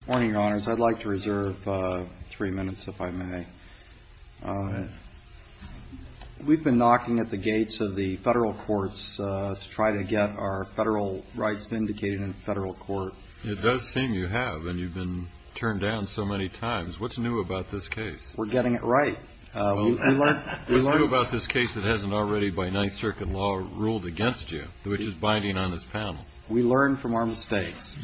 Good morning, your honors. I'd like to reserve three minutes, if I may. We've been knocking at the gates of the federal courts to try to get our federal rights vindicated in federal court. It does seem you have, and you've been turned down so many times. What's new about this case? We're getting it right. What's new about this case that hasn't already, by Ninth Circuit law, ruled against you, which is binding on this panel? We learn from our mistakes.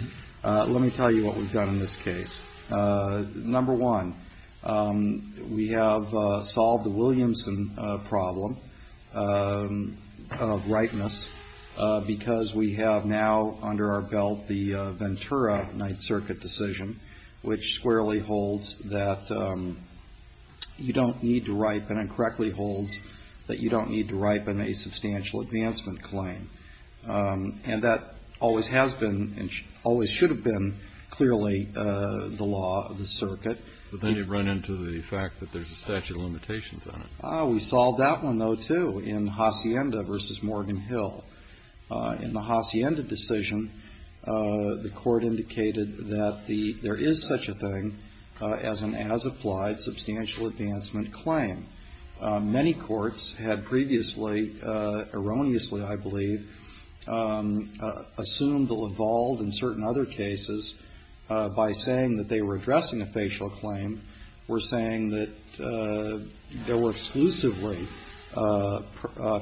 Let me tell you what we've done in this case. Number one, we have solved the Williamson problem of ripeness because we have now under our belt the Ventura Ninth Circuit decision, which squarely holds that you don't need to ripen and correctly holds that you don't need to ripen a substantial advancement claim. And that always has been and always should have been clearly the law of the circuit. But then you've run into the fact that there's a statute of limitations on it. We solved that one, though, too, in Hacienda v. Morgan Hill. In the Hacienda decision, the Court indicated that there is such a thing as an as-applied substantial advancement claim. Many courts had previously, erroneously, I believe, assumed the Laval and certain other cases by saying that they were addressing a facial claim, were saying that there were exclusively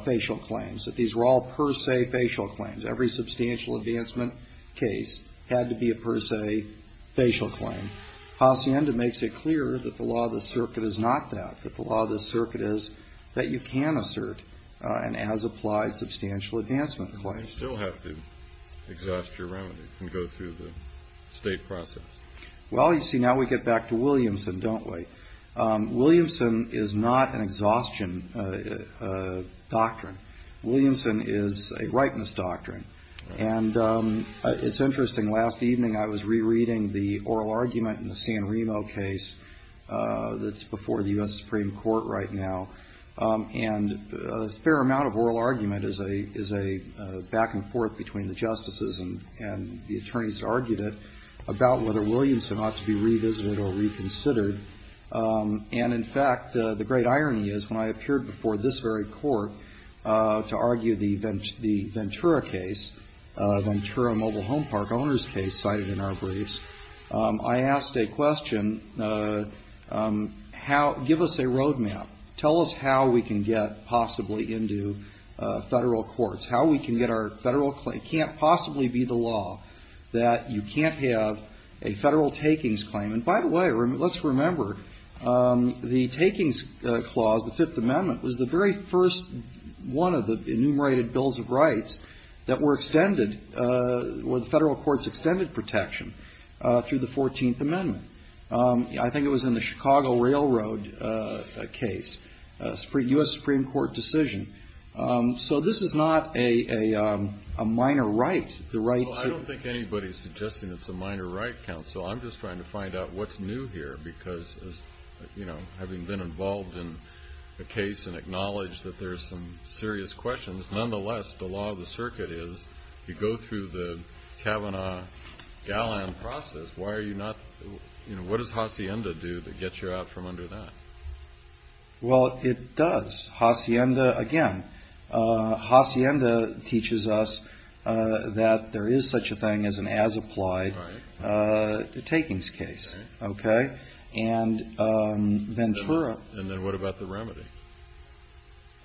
facial claims, that these were all per se facial claims. Every substantial advancement case had to be a per se facial claim. And Hacienda makes it clear that the law of the circuit is not that, that the law of the circuit is that you can assert an as-applied substantial advancement claim. You still have to exhaust your remedy and go through the state process. Well, you see, now we get back to Williamson, don't we? Williamson is not an exhaustion doctrine. Williamson is a ripeness doctrine. And it's interesting. Last evening I was rereading the oral argument in the San Remo case that's before the U.S. Supreme Court right now. And a fair amount of oral argument is a back and forth between the justices and the attorneys who argued it about whether Williamson ought to be revisited or reconsidered. And, in fact, the great irony is when I appeared before this very court to argue the Ventura case, Ventura Mobile Home Park owner's case cited in our briefs, I asked a question, give us a road map. Tell us how we can get possibly into federal courts. How we can get our federal claim. It can't possibly be the law that you can't have a federal takings claim. And, by the way, let's remember the takings clause, the Fifth Amendment, was the very first one of the enumerated bills of rights that were extended where the federal courts extended protection through the Fourteenth Amendment. I think it was in the Chicago Railroad case, a U.S. Supreme Court decision. So this is not a minor right, the right to ---- Well, I don't think anybody is suggesting it's a minor right, counsel. I'm just trying to find out what's new here because, you know, having been involved in the case and acknowledged that there's some serious questions, nonetheless, the law of the circuit is you go through the Kavanaugh-Galland process, why are you not, you know, what does Hacienda do to get you out from under that? Well, it does. Hacienda, again, Hacienda teaches us that there is such a thing as an as-applied. Right. Takings case. Right. Okay? And Ventura. And then what about the remedy?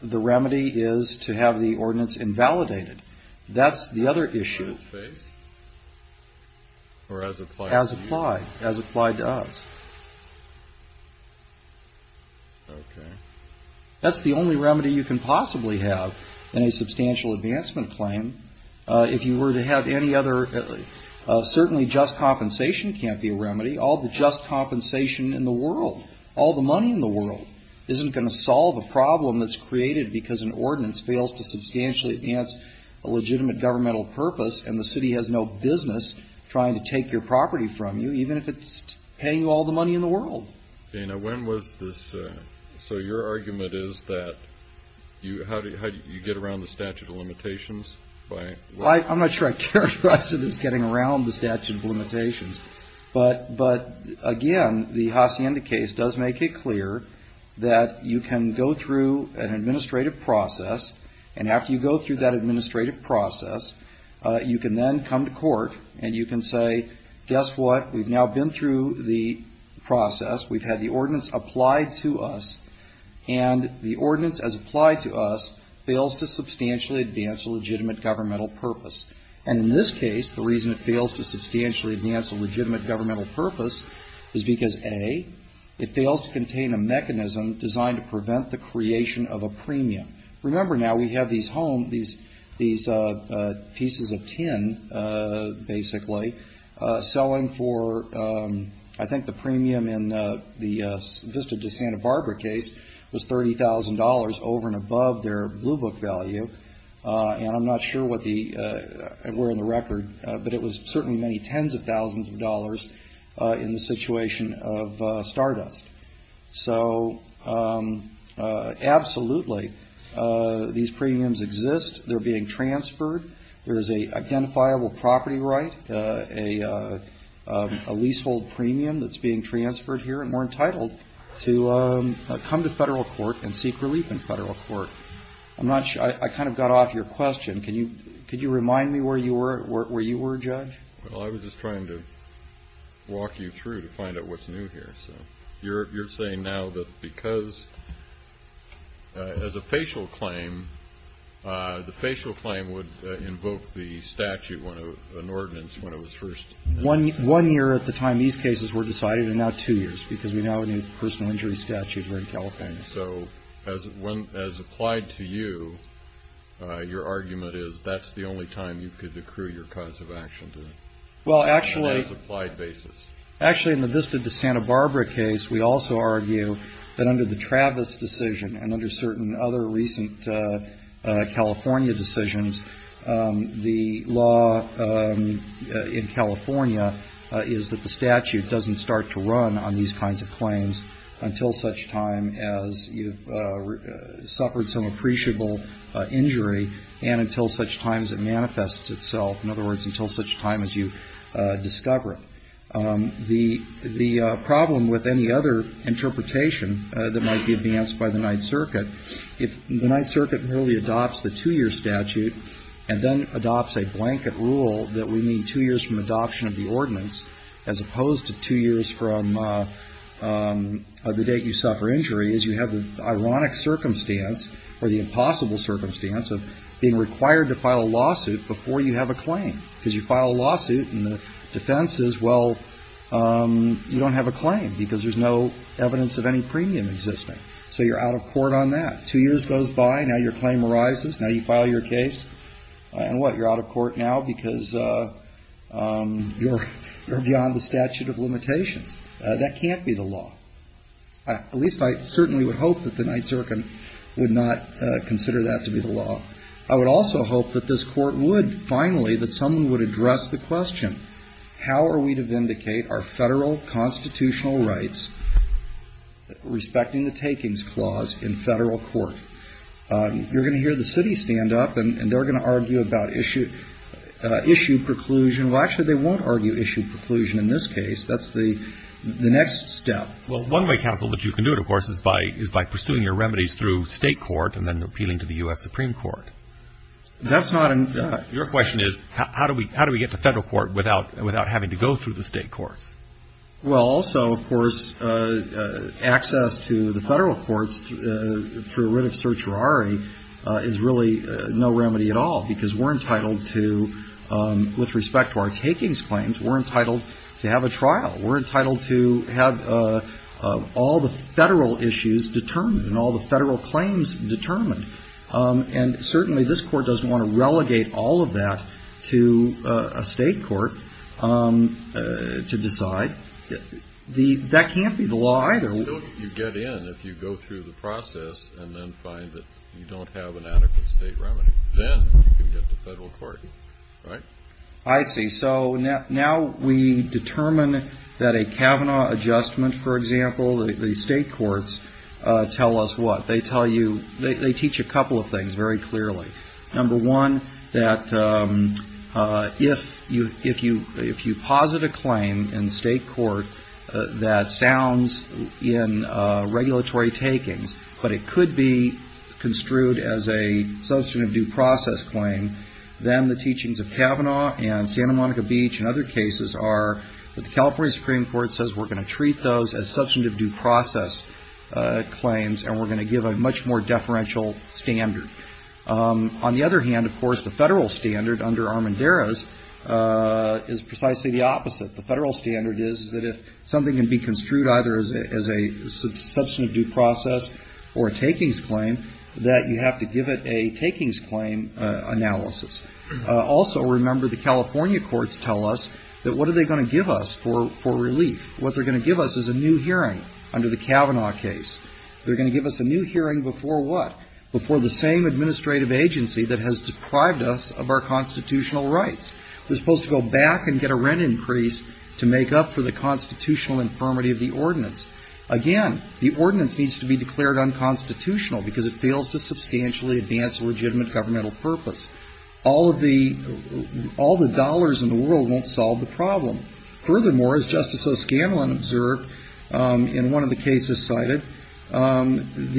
The remedy is to have the ordinance invalidated. That's the other issue. As-based? Or as-applied? As-applied. As-applied does. Okay. That's the only remedy you can possibly have in a substantial advancement claim. If you were to have any other, certainly just compensation can't be a remedy. All the just compensation in the world, all the money in the world, isn't going to solve a problem that's created because an ordinance fails to substantially advance a legitimate governmental purpose and the city has no business trying to take your property from you, even if it's paying you all the money in the world. Okay. Now, when was this? So your argument is that how do you get around the statute of limitations? I'm not sure I characterized it as getting around the statute of limitations. But, again, the Hacienda case does make it clear that you can go through an administrative process, and after you go through that administrative process, you can then come to court and you can say, guess what? We've now been through the process. We've had the ordinance applied to us, and the ordinance, as applied to us, fails to substantially advance a legitimate governmental purpose. And in this case, the reason it fails to substantially advance a legitimate governmental purpose is because, A, it fails to contain a mechanism designed to prevent the creation of a premium. Remember, now, we have these home, these pieces of tin, basically, selling for I think the premium in the Vista de Santa Barbara case was $30,000 over and above their Blue Book value. And I'm not sure what the, where in the record, but it was certainly many tens of thousands of dollars in the situation of Stardust. So, absolutely, these premiums exist. They're being transferred. There is an identifiable property right, a leasehold premium that's being transferred here, and we're entitled to come to federal court and seek relief in federal court. I'm not sure. I kind of got off your question. Could you remind me where you were, Judge? Well, I was just trying to walk you through to find out what's new here. So you're saying now that because, as a facial claim, the facial claim would invoke the statute, an ordinance, when it was first? One year at the time these cases were decided, and now two years, because we now have a new personal injury statute here in California. So as applied to you, your argument is that's the only time you could accrue your cause of action to it? Well, actually. On an as-applied basis. Actually, in the Vista de Santa Barbara case, we also argue that under the Travis decision and under certain other recent California decisions, the law in California is that the statute doesn't start to run on these kinds of claims until such time as you've suffered some appreciable injury and until such time as it manifests itself. In other words, until such time as you discover it. The problem with any other interpretation that might be advanced by the Ninth Circuit, if the Ninth Circuit merely adopts the two-year statute and then adopts a blanket rule that we need two years from adoption of the ordinance, as opposed to two years from the date you suffer injury, is you have the ironic circumstance, or the impossible circumstance, of being required to file a lawsuit before you have a claim. Because you file a lawsuit, and the defense is, well, you don't have a claim because there's no evidence of any premium existing. So you're out of court on that. Two years goes by. Now your claim arises. Now you file your case. And what? You're out of court now because you're beyond the statute of limitations. That can't be the law. At least I certainly would hope that the Ninth Circuit would not consider that to be the law. I would also hope that this Court would finally, that someone would address the question, how are we to vindicate our Federal constitutional rights respecting the takings clause in Federal court? You're going to hear the city stand up, and they're going to argue about issue preclusion. Well, actually, they won't argue issue preclusion in this case. That's the next step. Well, one way, counsel, that you can do it, of course, is by pursuing your remedies through State court and then appealing to the U.S. Supreme Court. That's not an — Your question is, how do we get to Federal court without having to go through the State courts? Well, also, of course, access to the Federal courts through writ of certiorari is really no remedy at all, because we're entitled to, with respect to our takings claims, we're entitled to have a trial. We're entitled to have all the Federal issues determined and all the Federal claims determined. And certainly this Court doesn't want to relegate all of that to a State court to decide. That can't be the law either. Until you get in, if you go through the process and then find that you don't have an adequate State remedy, then you can get to Federal court, right? I see. So now we determine that a Kavanaugh adjustment, for example, the State courts tell us what? They tell you — they teach a couple of things very clearly. Number one, that if you posit a claim in State court that sounds in regulatory takings, but it could be construed as a substantive due process claim, then the teachings of Kavanaugh and Santa Monica Beach and other cases are that the California Supreme Court says we're going to treat those as substantive due process claims, and we're going to give a much more deferential standard. On the other hand, of course, the Federal standard under Armendariz is precisely the opposite. The Federal standard is that if something can be construed either as a substantive due process or a takings claim, that you have to give it a takings claim analysis. Also, remember, the California courts tell us that what are they going to give us for relief? What they're going to give us is a new hearing under the Kavanaugh case. They're going to give us a new hearing before what? Before the same administrative agency that has deprived us of our constitutional rights. We're supposed to go back and get a rent increase to make up for the constitutional infirmity of the ordinance. Again, the ordinance needs to be declared unconstitutional because it fails to substantially advance a legitimate governmental purpose. All of the dollars in the world won't solve the problem. Furthermore, as Justice O'Scanlan observed in one of the cases cited, the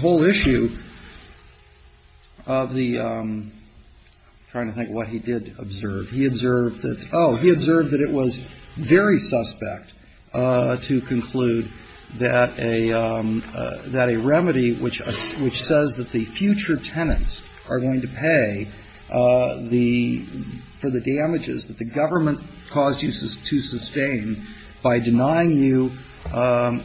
whole issue of the ‑‑ I'm trying to think of what he did observe. He observed that, oh, he observed that it was very suspect to conclude that a remedy which says that the future tenants are going to pay the ‑‑ for the damages that the government caused you to sustain by denying you, by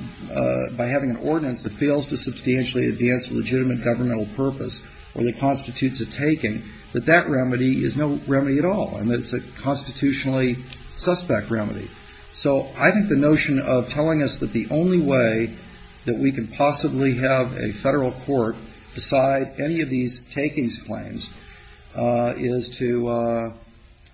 having an ordinance that fails to substantially advance a legitimate governmental purpose or that constitutes a taking, that that remedy is no remedy at all. I mean, it's a constitutionally suspect remedy. So I think the notion of telling us that the only way that we can possibly have a federal court decide any of these takings claims is to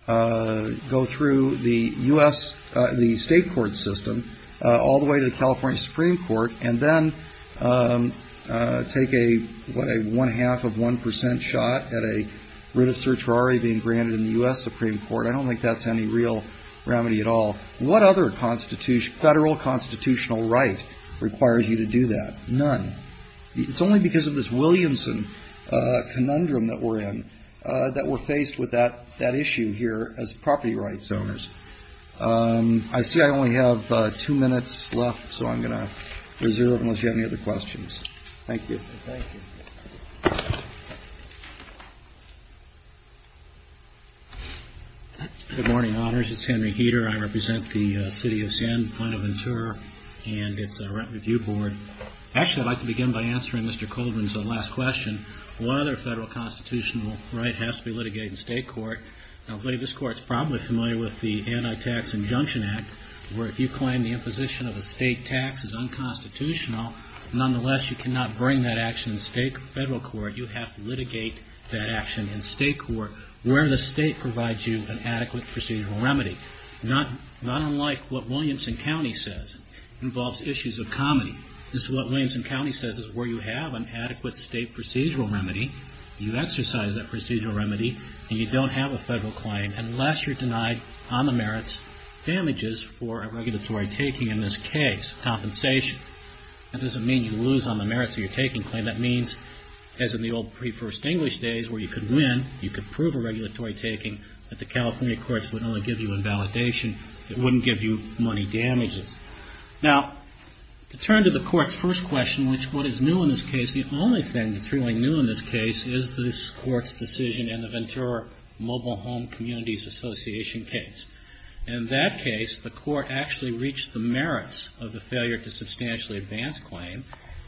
go through the U.S. ‑‑ the state court system all the way to the California Supreme Court, and then take a, what, a one‑half of 1% shot at a writ of certiorari being granted in the U.S. Supreme Court. I don't think that's any real remedy at all. What other federal constitutional right requires you to do that? None. It's only because of this Williamson conundrum that we're in that we're faced with that issue here as property rights owners. I see I only have two minutes left, so I'm going to reserve it unless you have any other questions. Thank you. Thank you. Good morning, honors. It's Henry Heater. I represent the city of San Buenaventura, and it's the Rent Review Board. Actually, I'd like to begin by answering Mr. Colvin's last question. What other federal constitutional right has to be litigated in state court? Now, buddy, this court is probably familiar with the Anti-Tax Injunction Act, where if you claim the imposition of a state tax is unconstitutional, nonetheless you cannot bring that action in state federal court. You have to litigate that action in state court where the state provides you an adequate procedural remedy. Not unlike what Williamson County says involves issues of comity. This is what Williamson County says is where you have an adequate state procedural remedy, you exercise that procedural remedy, and you don't have a federal claim unless you're denied on the merits damages for a regulatory taking in this case, compensation. That doesn't mean you lose on the merits of your taking claim. That means, as in the old pre-First English days where you could win, you could prove a regulatory taking, but the California courts would only give you invalidation. It wouldn't give you money damages. Now, to turn to the court's first question, which what is new in this case, the only thing that's really new in this case is this court's decision in the Ventura Mobile Home Communities Association case. In that case, the court actually reached the merits of the failure to substantially advance claim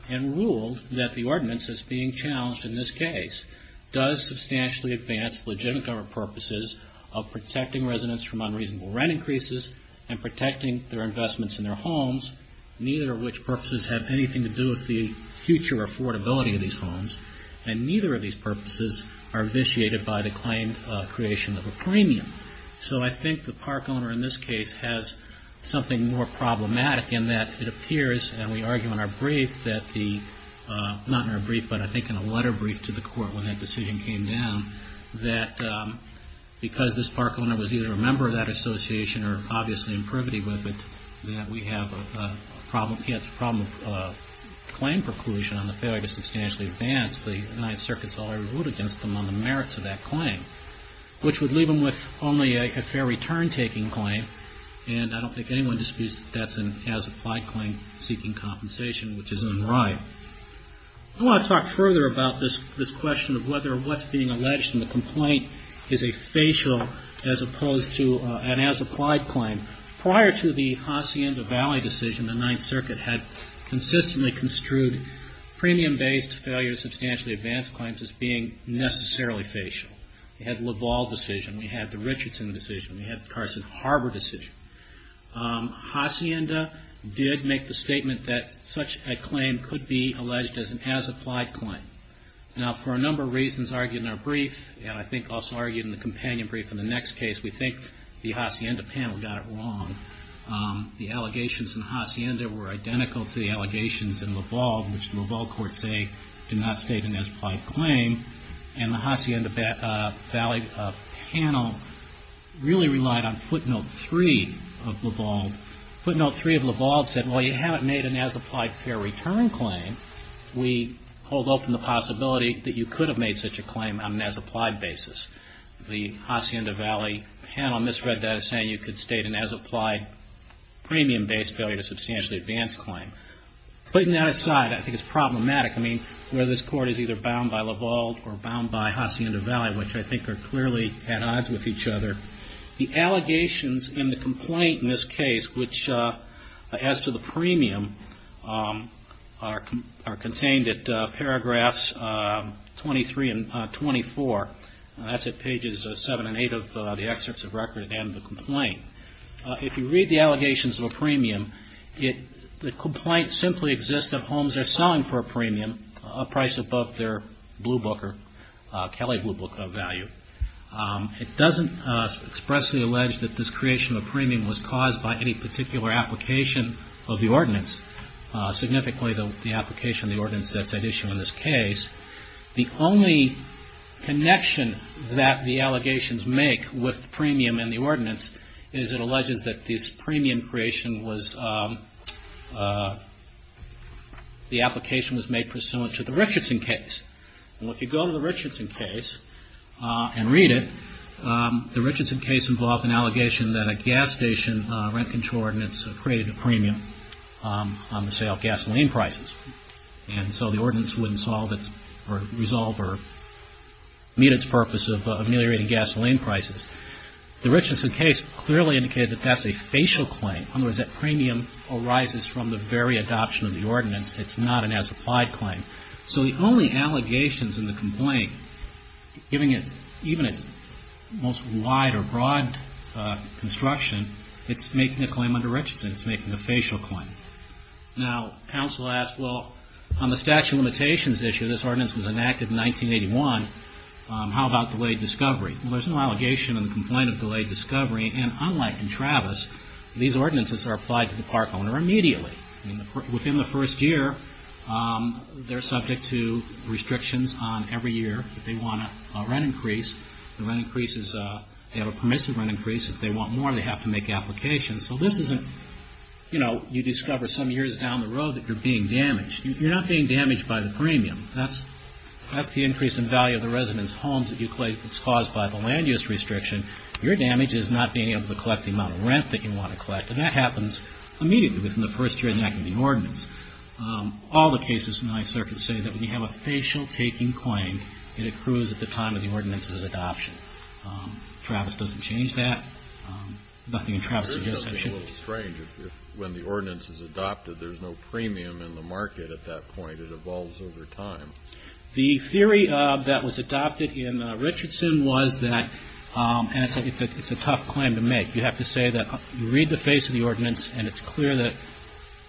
and ruled that the ordinance that's being challenged in this case does substantially advance legitimate government purposes of protecting residents from unreasonable rent increases and protecting their investments in their homes, neither of which purposes have anything to do with the future affordability of these homes, and neither of these purposes are vitiated by the claimed creation of a premium. So I think the park owner in this case has something more problematic in that it appears, and we argue in our brief that the, not in our brief, but I think in a letter brief to the court when that decision came down, that because this park owner was either a member of that association or obviously in privity with it, that we have a problem, yes, a problem of claim preclusion on the failure to substantially advance the United Circuits law and ruled against them on the merits of that claim, which would leave them with only a fair return-taking claim, and I don't think anyone disputes that that's an as-applied claim seeking compensation, which is unright. I want to talk further about this question of whether what's being alleged in the complaint is a facial as opposed to an as-applied claim. Prior to the Hacienda Valley decision, the Ninth Circuit had consistently construed premium-based failure to substantially advance claims as being necessarily facial. We had the Laval decision, we had the Richardson decision, we had the Carson Harbor decision. Hacienda did make the statement that such a claim could be alleged as an as-applied claim. Now, for a number of reasons argued in our brief, and I think also argued in the companion brief in the next case, we think the Hacienda panel got it wrong. The allegations in Hacienda were identical to the allegations in Laval, which the Laval court say did not state an as-applied claim, and the Hacienda Valley panel really relied on footnote three of Laval. Footnote three of Laval said, well, you haven't made an as-applied fair return claim. We hold open the possibility that you could have made such a claim on an as-applied basis. The Hacienda Valley panel misread that as saying you could state an as-applied premium-based failure to substantially advance claim. Putting that aside, I think it's problematic. I mean, whether this court is either bound by Laval or bound by Hacienda Valley, which I think are clearly at odds with each other, the allegations in the complaint in this case, which adds to the premium, are contained at paragraphs 23 and 24. That's at pages seven and eight of the excerpts of record at the end of the complaint. If you read the allegations of a premium, the complaint simply exists that homes are selling for a premium a price above their Blue Book or Kelley Blue Book value. It doesn't expressly allege that this creation of a premium was caused by any particular application of the ordinance, significantly the application of the ordinance that's at issue in this case. The only connection that the allegations make with the premium and the ordinance is it alleges that this premium creation was, the application was made pursuant to the Richardson case. Well, if you go to the Richardson case and read it, the Richardson case involved an allegation that a gas station rent control ordinance created a premium on the sale of gasoline prices. And so the ordinance wouldn't solve its, or resolve or meet its purpose of ameliorating gasoline prices. The Richardson case clearly indicated that that's a facial claim. In other words, that premium arises from the very adoption of the ordinance. It's not an as-applied claim. So the only allegations in the complaint, even its most wide or broad construction, it's making a claim under Richardson. It's making a facial claim. Now, counsel asked, well, on the statute of limitations issue, this ordinance was enacted in 1981. How about delayed discovery? Well, there's no allegation in the complaint of delayed discovery. And unlike in Travis, these ordinances are applied to the park owner immediately. Within the first year, they're subject to restrictions on every year. If they want a rent increase, the rent increase is, they have a permissive rent increase. If they want more, they have to make applications. So this isn't, you know, you discover some years down the road that you're being damaged. You're not being damaged by the premium. That's the increase in value of the resident's homes that you claim is caused by the land use restriction. Your damage is not being able to collect the amount of rent that you want to collect. And that happens immediately within the first year of the enactment of the ordinance. All the cases in the Ninth Circuit say that when you have a facial-taking claim, it accrues at the time of the ordinance's adoption. Travis doesn't change that. Nothing in Travis suggests that should be changed. It's a little strange. When the ordinance is adopted, there's no premium in the market at that point. It evolves over time. The theory that was adopted in Richardson was that, and it's a tough claim to make. You have to say that you read the face of the ordinance, and it's clear that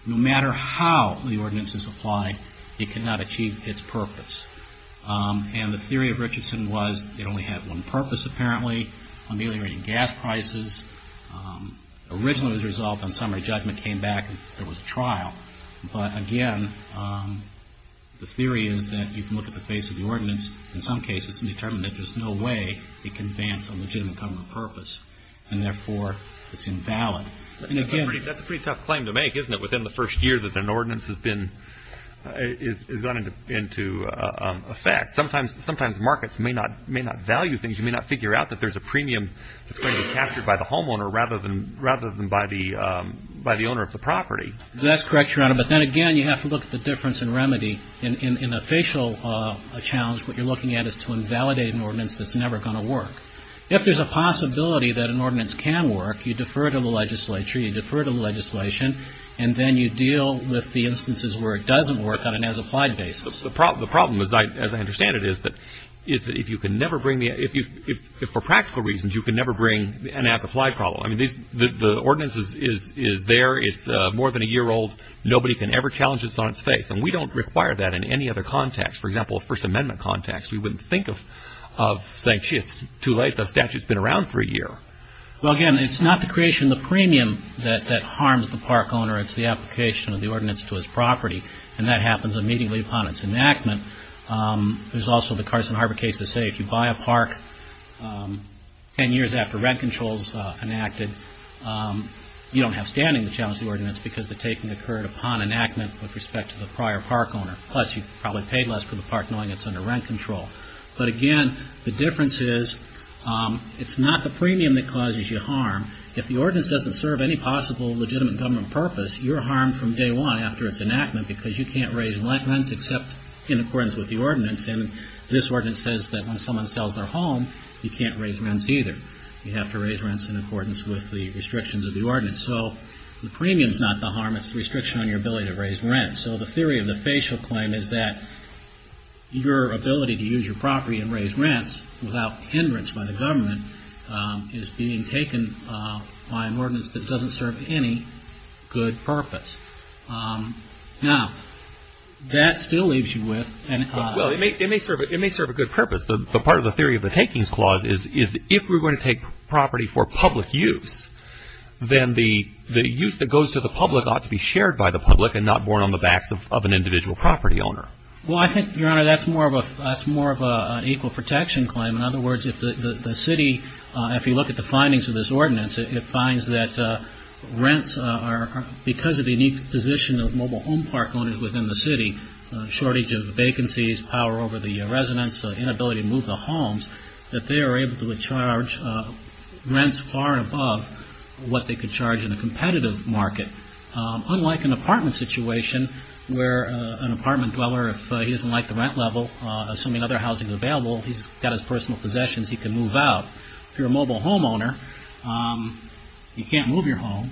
no matter how the ordinance is applied, it cannot achieve its purpose. And the theory of Richardson was it only had one purpose, apparently, ameliorating gas prices. Originally, the result on summary judgment came back and there was a trial. But again, the theory is that you can look at the face of the ordinance, in some cases, and determine that there's no way it can advance a legitimate government purpose. And therefore, it's invalid. That's a pretty tough claim to make, isn't it, within the first year that an ordinance has gone into effect. Sometimes markets may not value things. You may not figure out that there's a premium that's going to be captured by the homeowner rather than by the owner of the property. That's correct, Your Honor. But then again, you have to look at the difference in remedy. In a facial challenge, what you're looking at is to invalidate an ordinance that's never going to work. If there's a possibility that an ordinance can work, you defer it to the legislature. You defer it to the legislation. And then you deal with the instances where it doesn't work on an as-applied basis. The problem, as I understand it, is that if you can never bring the – if for practical reasons you can never bring an as-applied problem. I mean, the ordinance is there. It's more than a year old. Nobody can ever challenge it on its face. And we don't require that in any other context. For example, a First Amendment context, we wouldn't think of saying, gee, it's too late. The statute's been around for a year. Well, again, it's not the creation of the premium that harms the park owner. It's the application of the ordinance to his property. And that happens immediately upon its enactment. There's also the Carson Harbor case to say if you buy a park ten years after rent controls enacted, you don't have standing to challenge the ordinance because the taking occurred upon enactment with respect to the prior park owner. Plus, you probably paid less for the park knowing it's under rent control. But again, the difference is it's not the premium that causes you harm. If the ordinance doesn't serve any possible legitimate government purpose, you're harmed from day one after its enactment because you can't raise rents except in accordance with the ordinance. And this ordinance says that when someone sells their home, you can't raise rents either. You have to raise rents in accordance with the restrictions of the ordinance. So the premium's not the harm. It's the restriction on your ability to raise rents. So the theory of the facial claim is that your ability to use your property and raise rents without hindrance by the government is being taken by an ordinance that doesn't serve any good purpose. Now, that still leaves you with an economy. Well, it may serve a good purpose. But part of the theory of the takings clause is if we're going to take property for public use, then the use that goes to the public ought to be shared by the public and not borne on the backs of an individual property owner. Well, I think, Your Honor, that's more of an equal protection claim. In other words, if the city, if you look at the findings of this ordinance, it finds that rents are, because of the unique position of mobile home park owners within the city, shortage of vacancies, power over the residents, inability to move the homes, that they are able to charge rents far above what they could charge in a competitive market. Unlike an apartment situation where an apartment dweller, if he doesn't like the rent level, assuming other housing is available, he's got his personal possessions, he can move out. If you're a mobile home owner, you can't move your home.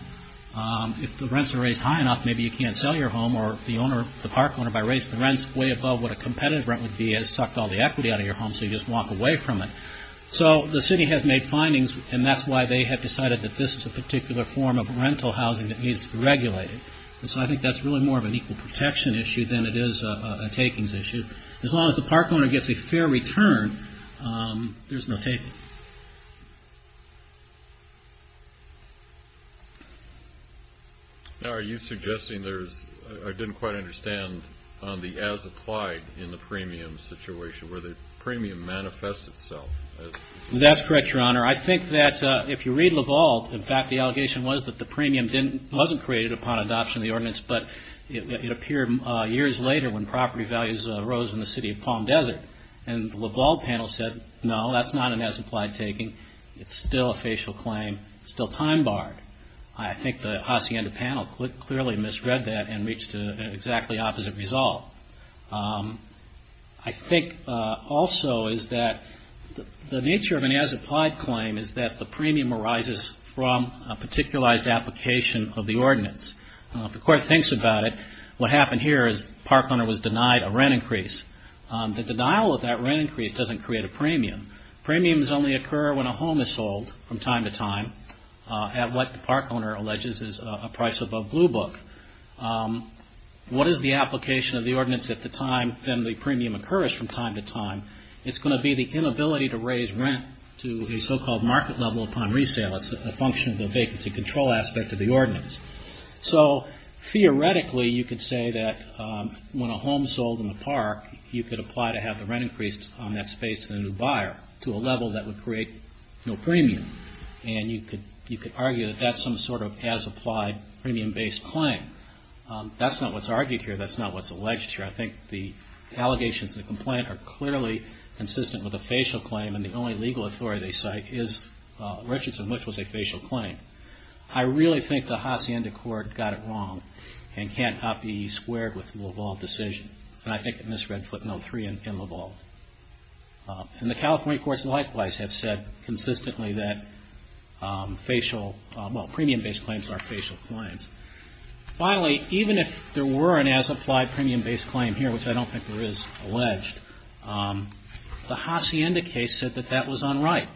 If the rents are raised high enough, maybe you can't sell your home. Or if the park owner, if I raise the rents way above what a competitive rent would be, he has sucked all the equity out of your home, so you just walk away from it. So the city has made findings, and that's why they have decided that this is a particular form of rental housing that needs to be regulated. And so I think that's really more of an equal protection issue than it is a takings issue. As long as the park owner gets a fair return, there's no taking. Thank you. Now are you suggesting there's, I didn't quite understand, on the as applied in the premium situation where the premium manifests itself? That's correct, Your Honor. I think that if you read Laval, in fact the allegation was that the premium wasn't created upon adoption of the ordinance, but it appeared years later when property values arose in the city of Palm Desert. And the Laval panel said, no, that's not an as applied taking. It's still a facial claim. It's still time barred. I think the Hacienda panel clearly misread that and reached an exactly opposite result. I think also is that the nature of an as applied claim is that the premium arises from a particularized application of the ordinance. If the court thinks about it, what happened here is the park owner was denied a rent increase. The denial of that rent increase doesn't create a premium. Premiums only occur when a home is sold from time to time at what the park owner alleges is a price above blue book. What is the application of the ordinance at the time then the premium occurs from time to time? It's going to be the inability to raise rent to a so-called market level upon resale. It's a function of the vacancy control aspect of the ordinance. Theoretically, you could say that when a home is sold in the park, you could apply to have the rent increased on that space to the new buyer to a level that would create no premium. And you could argue that that's some sort of as applied premium based claim. That's not what's argued here. That's not what's alleged here. I think the allegations in the complaint are clearly consistent with a facial claim. And the only legal authority they cite is Richardson, which was a facial claim. I really think the Hacienda court got it wrong and can't up the E squared with the Laval decision. And I think it misread footnote three in Laval. And the California courts likewise have said consistently that facial, well, premium based claims are facial claims. Finally, even if there were an as applied premium based claim here, which I don't think there is alleged, the Hacienda case said that that was unright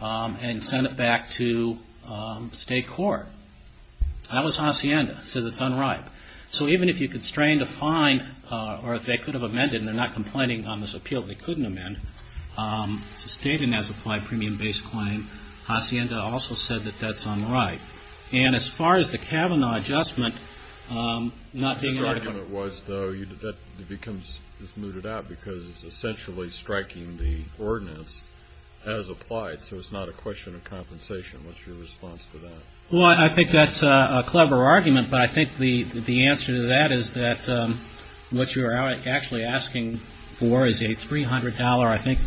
and sent it back to state court. That was Hacienda. It says it's unright. So even if you constrained a fine or if they could have amended and they're not complaining on this appeal, they couldn't amend, it's a stated as applied premium based claim. Hacienda also said that that's unright. And as far as the Kavanaugh adjustment not being adequate. It becomes mooted out because it's essentially striking the ordinance as applied. So it's not a question of compensation. What's your response to that? Well, I think that's a clever argument. But I think the answer to that is that what you are actually asking for is a $300, I think,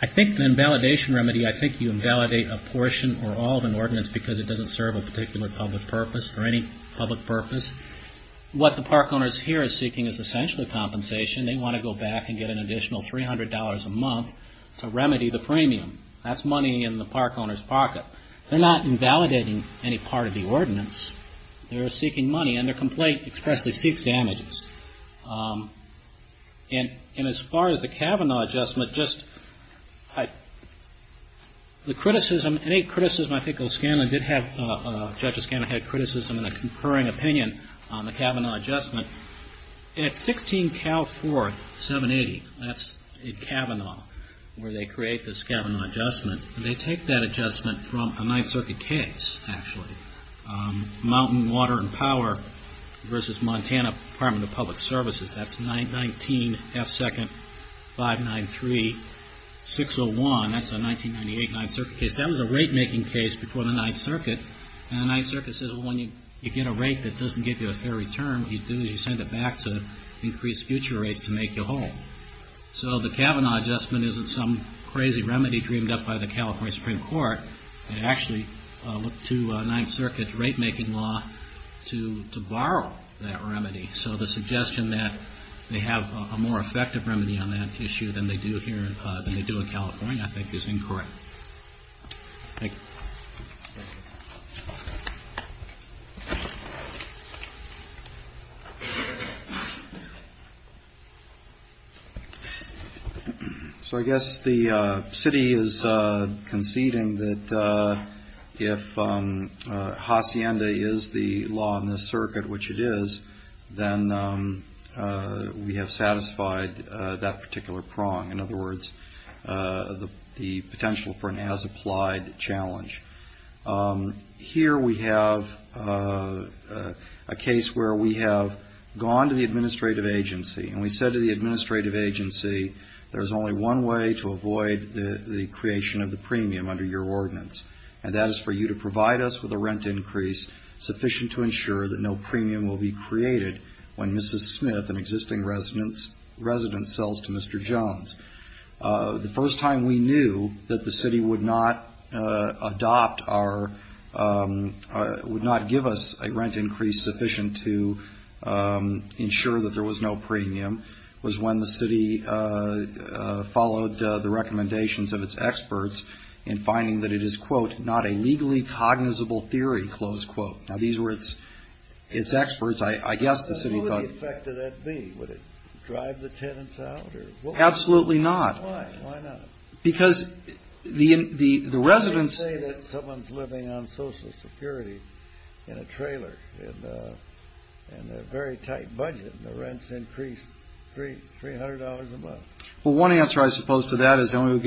I think the invalidation remedy, I think you invalidate a portion or all of an ordinance because it doesn't serve a particular public purpose or any public purpose. What the park owners here are seeking is essentially compensation. They want to go back and get an additional $300 a month to remedy the premium. That's money in the park owner's pocket. They're not invalidating any part of the ordinance. They're seeking money. And their complaint expressly seeks damages. And as far as the Kavanaugh adjustment, just the criticism, any criticism, I think Judge O'Scanlan had criticism and a concurring opinion on the Kavanaugh adjustment. At 16 Cal 4, 780, that's in Kavanaugh where they create this Kavanaugh adjustment. They take that adjustment from a Ninth Circuit case, actually. Mountain Water and Power versus Montana Department of Public Services. That's 919 F2-593-601. That's a 1998 Ninth Circuit case. That was a rate-making case before the Ninth Circuit. And the Ninth Circuit says, well, when you get a rate that doesn't give you a fair return, what you do is you send it back to increase future rates to make you whole. So the Kavanaugh adjustment isn't some crazy remedy dreamed up by the California Supreme Court. They actually look to Ninth Circuit rate-making law to borrow that remedy. So the suggestion that they have a more effective remedy on that issue than they do here, than they do in California, I think is incorrect. Thank you. So I guess the city is conceding that if hacienda is the law in this circuit, which it is, then we have satisfied that particular prong. In other words, the potential for an as-applied challenge. Here we have a case where we have gone to the administrative agency, and we said to the administrative agency, there's only one way to avoid the creation of the premium under your ordinance, and that is for you to provide us with a rent increase sufficient to ensure that no premium will be created when Mrs. Smith, an existing resident, sells to Mr. Jones. The first time we knew that the city would not adopt our, would not give us a rent increase sufficient to ensure that there was no premium, was when the city followed the recommendations of its experts in finding that it is, quote, not a legally cognizable theory, close quote. Now these were its experts. I guess the city thought. So what would the effect of that be? Would it drive the tenants out? Absolutely not. Why not? Because the residents. How can you say that someone's living on Social Security in a trailer, in a very tight budget, and the rent's increased $300 a month? Well, one answer I suppose to that is, to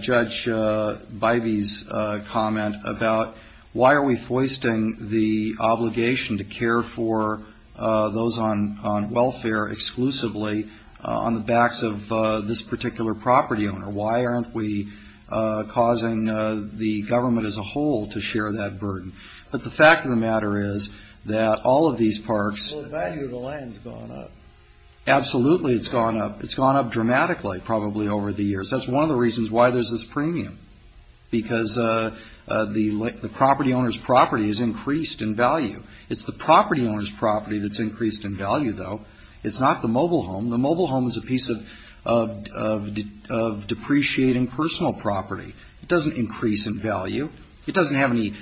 Judge Bivey's comment about why are we foisting the obligation to care for those on welfare exclusively on the backs of this particular property owner? Why aren't we causing the government as a whole to share that burden? But the fact of the matter is that all of these parks. Well, the value of the land's gone up. Absolutely it's gone up. It's gone up dramatically probably over the years. That's one of the reasons why there's this premium, because the property owner's property has increased in value. It's the property owner's property that's increased in value, though. It's not the mobile home. The mobile home is a piece of depreciating personal property. It doesn't increase in value. It doesn't have any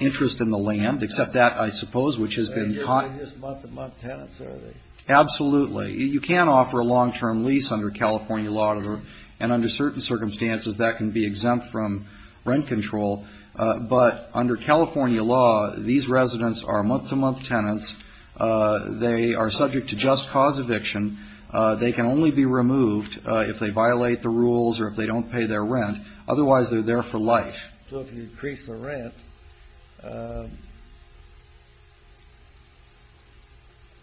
interest in the land, except that, I suppose, which has been caught. They're usually just month-to-month tenants, are they? Absolutely. You can offer a long-term lease under California law, and under certain circumstances that can be exempt from rent control. But under California law, these residents are month-to-month tenants. They are subject to just cause eviction. They can only be removed if they violate the rules or if they don't pay their rent. Otherwise, they're there for life. So if you increase the rent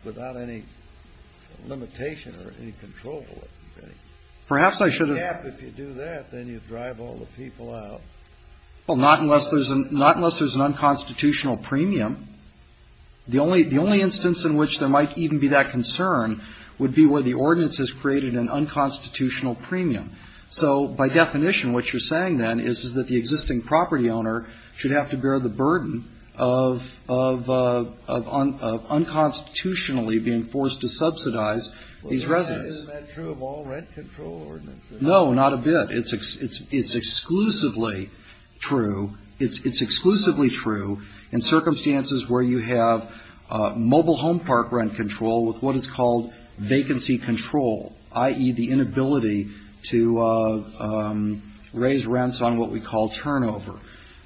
without any limitation or any control over it. Perhaps I should have ---- If you do that, then you drive all the people out. Well, not unless there's an unconstitutional premium. The only instance in which there might even be that concern would be where the ordinance has created an unconstitutional premium. So by definition, what you're saying then is that the existing property owner should have to bear the burden of unconstitutionally being forced to subsidize these residents. Isn't that true of all rent control ordinances? No, not a bit. It's exclusively true. It's exclusively true in circumstances where you have mobile home park rent control with what is called vacancy control, i.e., the inability to raise rents on what we call turnover.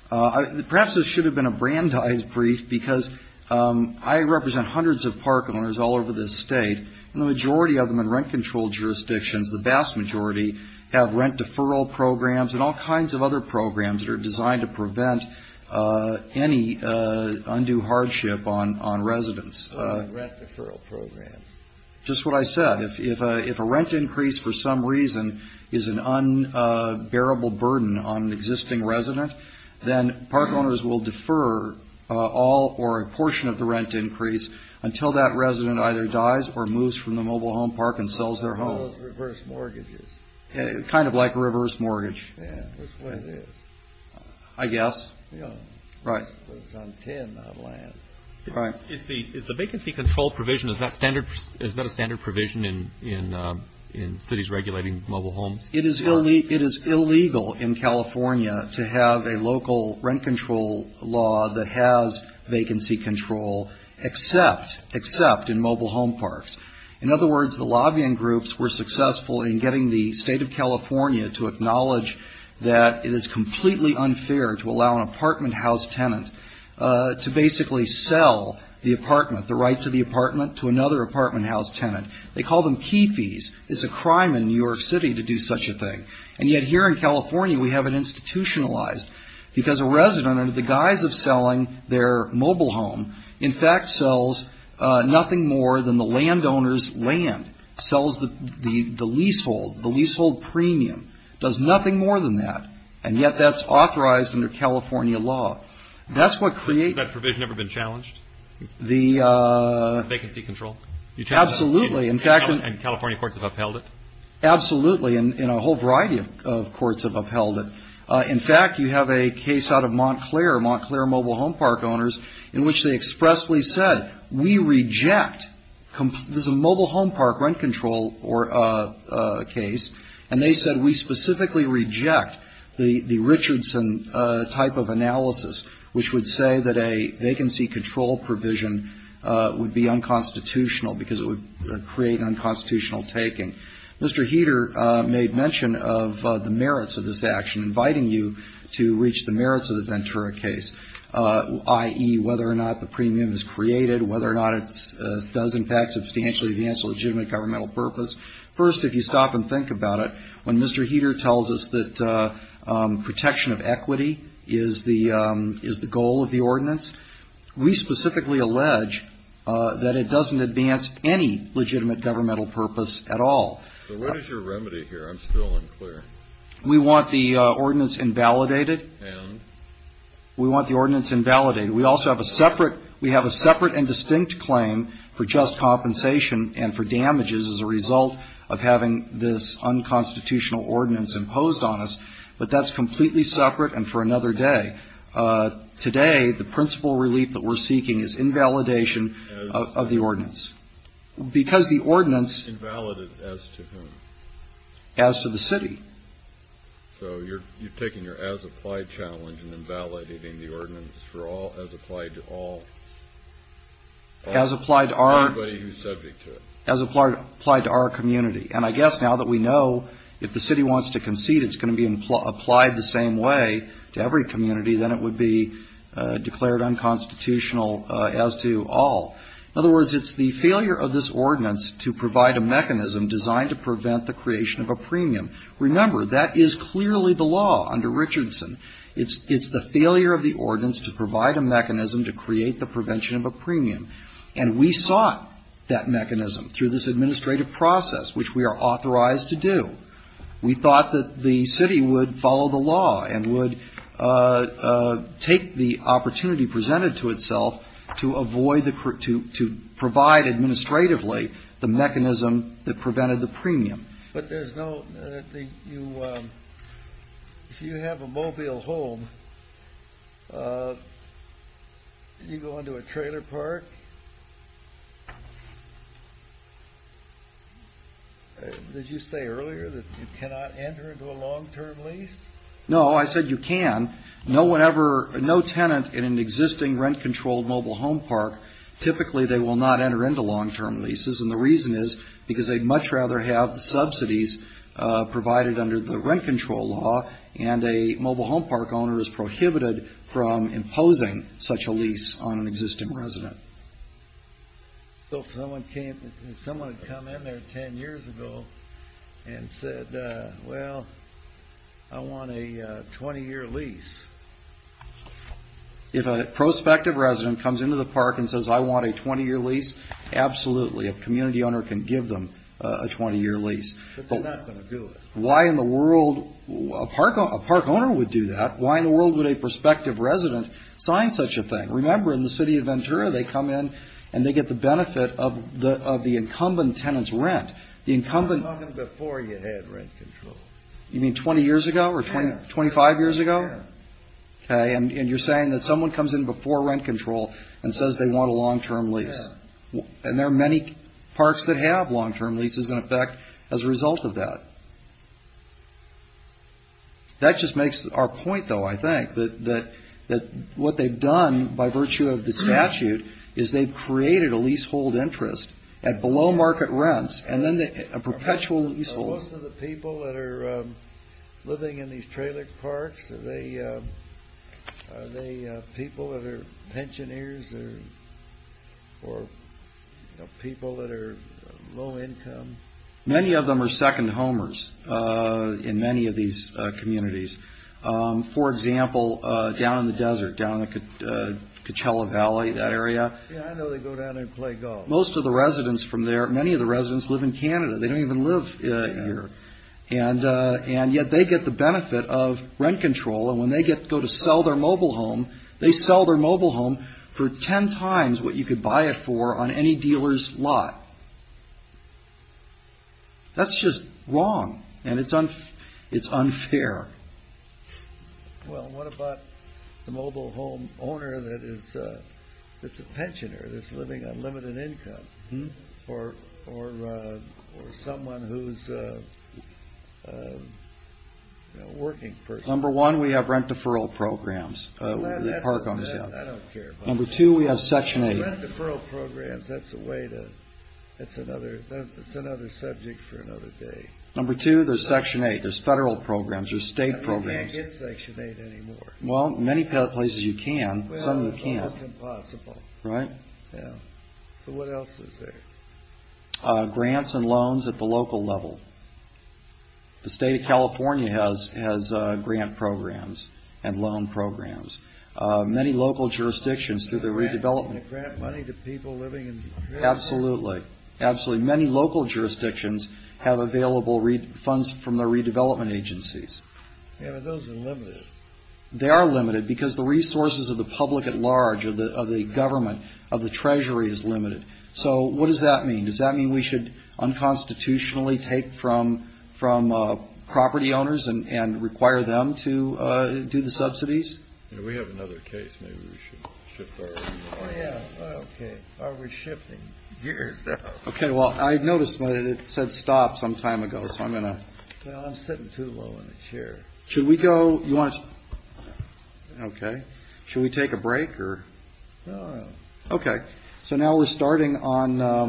Perhaps this should have been a Brandeis brief because I represent hundreds of park owners all over this state, and the majority of them in rent control jurisdictions, the vast majority, have rent deferral programs and all kinds of other programs that are designed to prevent any undue hardship on residents. Rent deferral program. Just what I said. If a rent increase for some reason is an unbearable burden on an existing resident, then park owners will defer all or a portion of the rent increase until that resident either dies or moves from the mobile home park and sells their home. I guess. Right. Is the vacancy control provision, is that a standard provision in cities regulating mobile homes? It is illegal in California to have a local rent control law that has vacancy control except in mobile home parks. In other words, the lobbying groups were successful in getting the state of California to acknowledge that it is completely unfair to allow an apartment house tenant to basically sell the apartment, the right to the apartment, to another apartment house tenant. They call them key fees. It's a crime in New York City to do such a thing. And yet here in California we have it institutionalized because a resident, under the guise of selling their mobile home, in fact, sells nothing more than the landowner's land, sells the leasehold, the leasehold premium, does nothing more than that, and yet that's authorized under California law. Has that provision ever been challenged? The vacancy control? Absolutely. And California courts have upheld it? Absolutely. And a whole variety of courts have upheld it. In fact, you have a case out of Montclair, Montclair mobile home park owners, in which they expressly said, we reject. This is a mobile home park rent control case. And they said, we specifically reject the Richardson type of analysis, which would say that a vacancy control provision would be unconstitutional because it would create unconstitutional taking. Mr. Heeter made mention of the merits of this action, inviting you to reach the merits of the Ventura case, i.e., whether or not the premium is created, whether or not it does, in fact, substantially advance a legitimate governmental purpose. First, if you stop and think about it, when Mr. Heeter tells us that protection of equity is the goal of the ordinance, we specifically allege that it doesn't advance any legitimate governmental purpose at all. So what is your remedy here? I'm still unclear. We want the ordinance invalidated. And? We want the ordinance invalidated. We also have a separate, we have a separate and distinct claim for just compensation and for damages as a result of having this unconstitutional ordinance imposed on us. But that's completely separate and for another day. Today, the principal relief that we're seeking is invalidation of the ordinance. Because the ordinance. Invalid as to whom? As to the city. So you're taking your as-applied challenge and invalidating the ordinance for all, as applied to all? As applied to our. Everybody who's subject to it. As applied to our community. And I guess now that we know if the city wants to concede it's going to be applied the same way to every community, then it would be declared unconstitutional as to all. In other words, it's the failure of this ordinance to provide a mechanism designed to prevent the creation of a premium. Remember, that is clearly the law under Richardson. It's the failure of the ordinance to provide a mechanism to create the prevention of a premium. And we sought that mechanism through this administrative process, which we are authorized to do. We thought that the city would follow the law and would take the opportunity presented to itself to avoid the, to provide administratively the mechanism that prevented the premium. But there's no, if you have a mobile home and you go into a trailer park, did you say earlier that you cannot enter into a long-term lease? No, I said you can. No tenant in an existing rent-controlled mobile home park, typically they will not enter into long-term leases. And the reason is because they'd much rather have the subsidies provided under the rent-control law and a mobile home park owner is prohibited from imposing such a lease on an existing resident. So someone came, someone had come in there 10 years ago and said, well, I want a 20-year lease. If a prospective resident comes into the park and says, I want a 20-year lease, absolutely. A community owner can give them a 20-year lease. But they're not going to do it. Why in the world, a park owner would do that. Why in the world would a prospective resident sign such a thing? Remember, in the city of Ventura, they come in and they get the benefit of the incumbent tenant's rent. The incumbent. Even before you had rent control. You mean 20 years ago or 25 years ago? Yeah. Okay, and you're saying that someone comes in before rent control and says they want a long-term lease. Yeah. And there are many parks that have long-term leases in effect as a result of that. That just makes our point, though, I think, that what they've done by virtue of the statute is they've created a leasehold interest at below-market rents and then a perpetual leasehold. Most of the people that are living in these trailer parks, are they people that are pensioneers or people that are low-income? Many of them are second-homers in many of these communities. For example, down in the desert, down in the Coachella Valley, that area. Yeah, I know they go down and play golf. Most of the residents from there, many of the residents live in Canada. They don't even live here. And yet they get the benefit of rent control, and when they go to sell their mobile home, they sell their mobile home for ten times what you could buy it for on any dealer's lot. That's just wrong, and it's unfair. Well, what about the mobile home owner that's a pensioner that's living on limited income, or someone who's a working person? Number one, we have rent-deferral programs. I don't care about that. Number two, we have Section 8. Rent-deferral programs, that's another subject for another day. Number two, there's Section 8. There's federal programs. There's state programs. I can't get Section 8 anymore. Well, many places you can. Some you can't. Well, it's almost impossible. Right? Yeah. So what else is there? Grants and loans at the local level. The state of California has grant programs and loan programs. Many local jurisdictions through the redevelopment. Can they grant money to people living in the area? Absolutely. Absolutely. Many local jurisdictions have available funds from their redevelopment agencies. Yeah, but those are limited. They are limited because the resources of the public at large, of the government, of the Treasury, is limited. So what does that mean? Does that mean we should unconstitutionally take from property owners and require them to do the subsidies? We have another case. Maybe we should shift gears. Okay. Well, I noticed it said stop some time ago. So I'm going to. Well, I'm sitting too low in the chair. Should we go? You want to. Okay. Should we take a break or. No. Okay. So now we're starting on.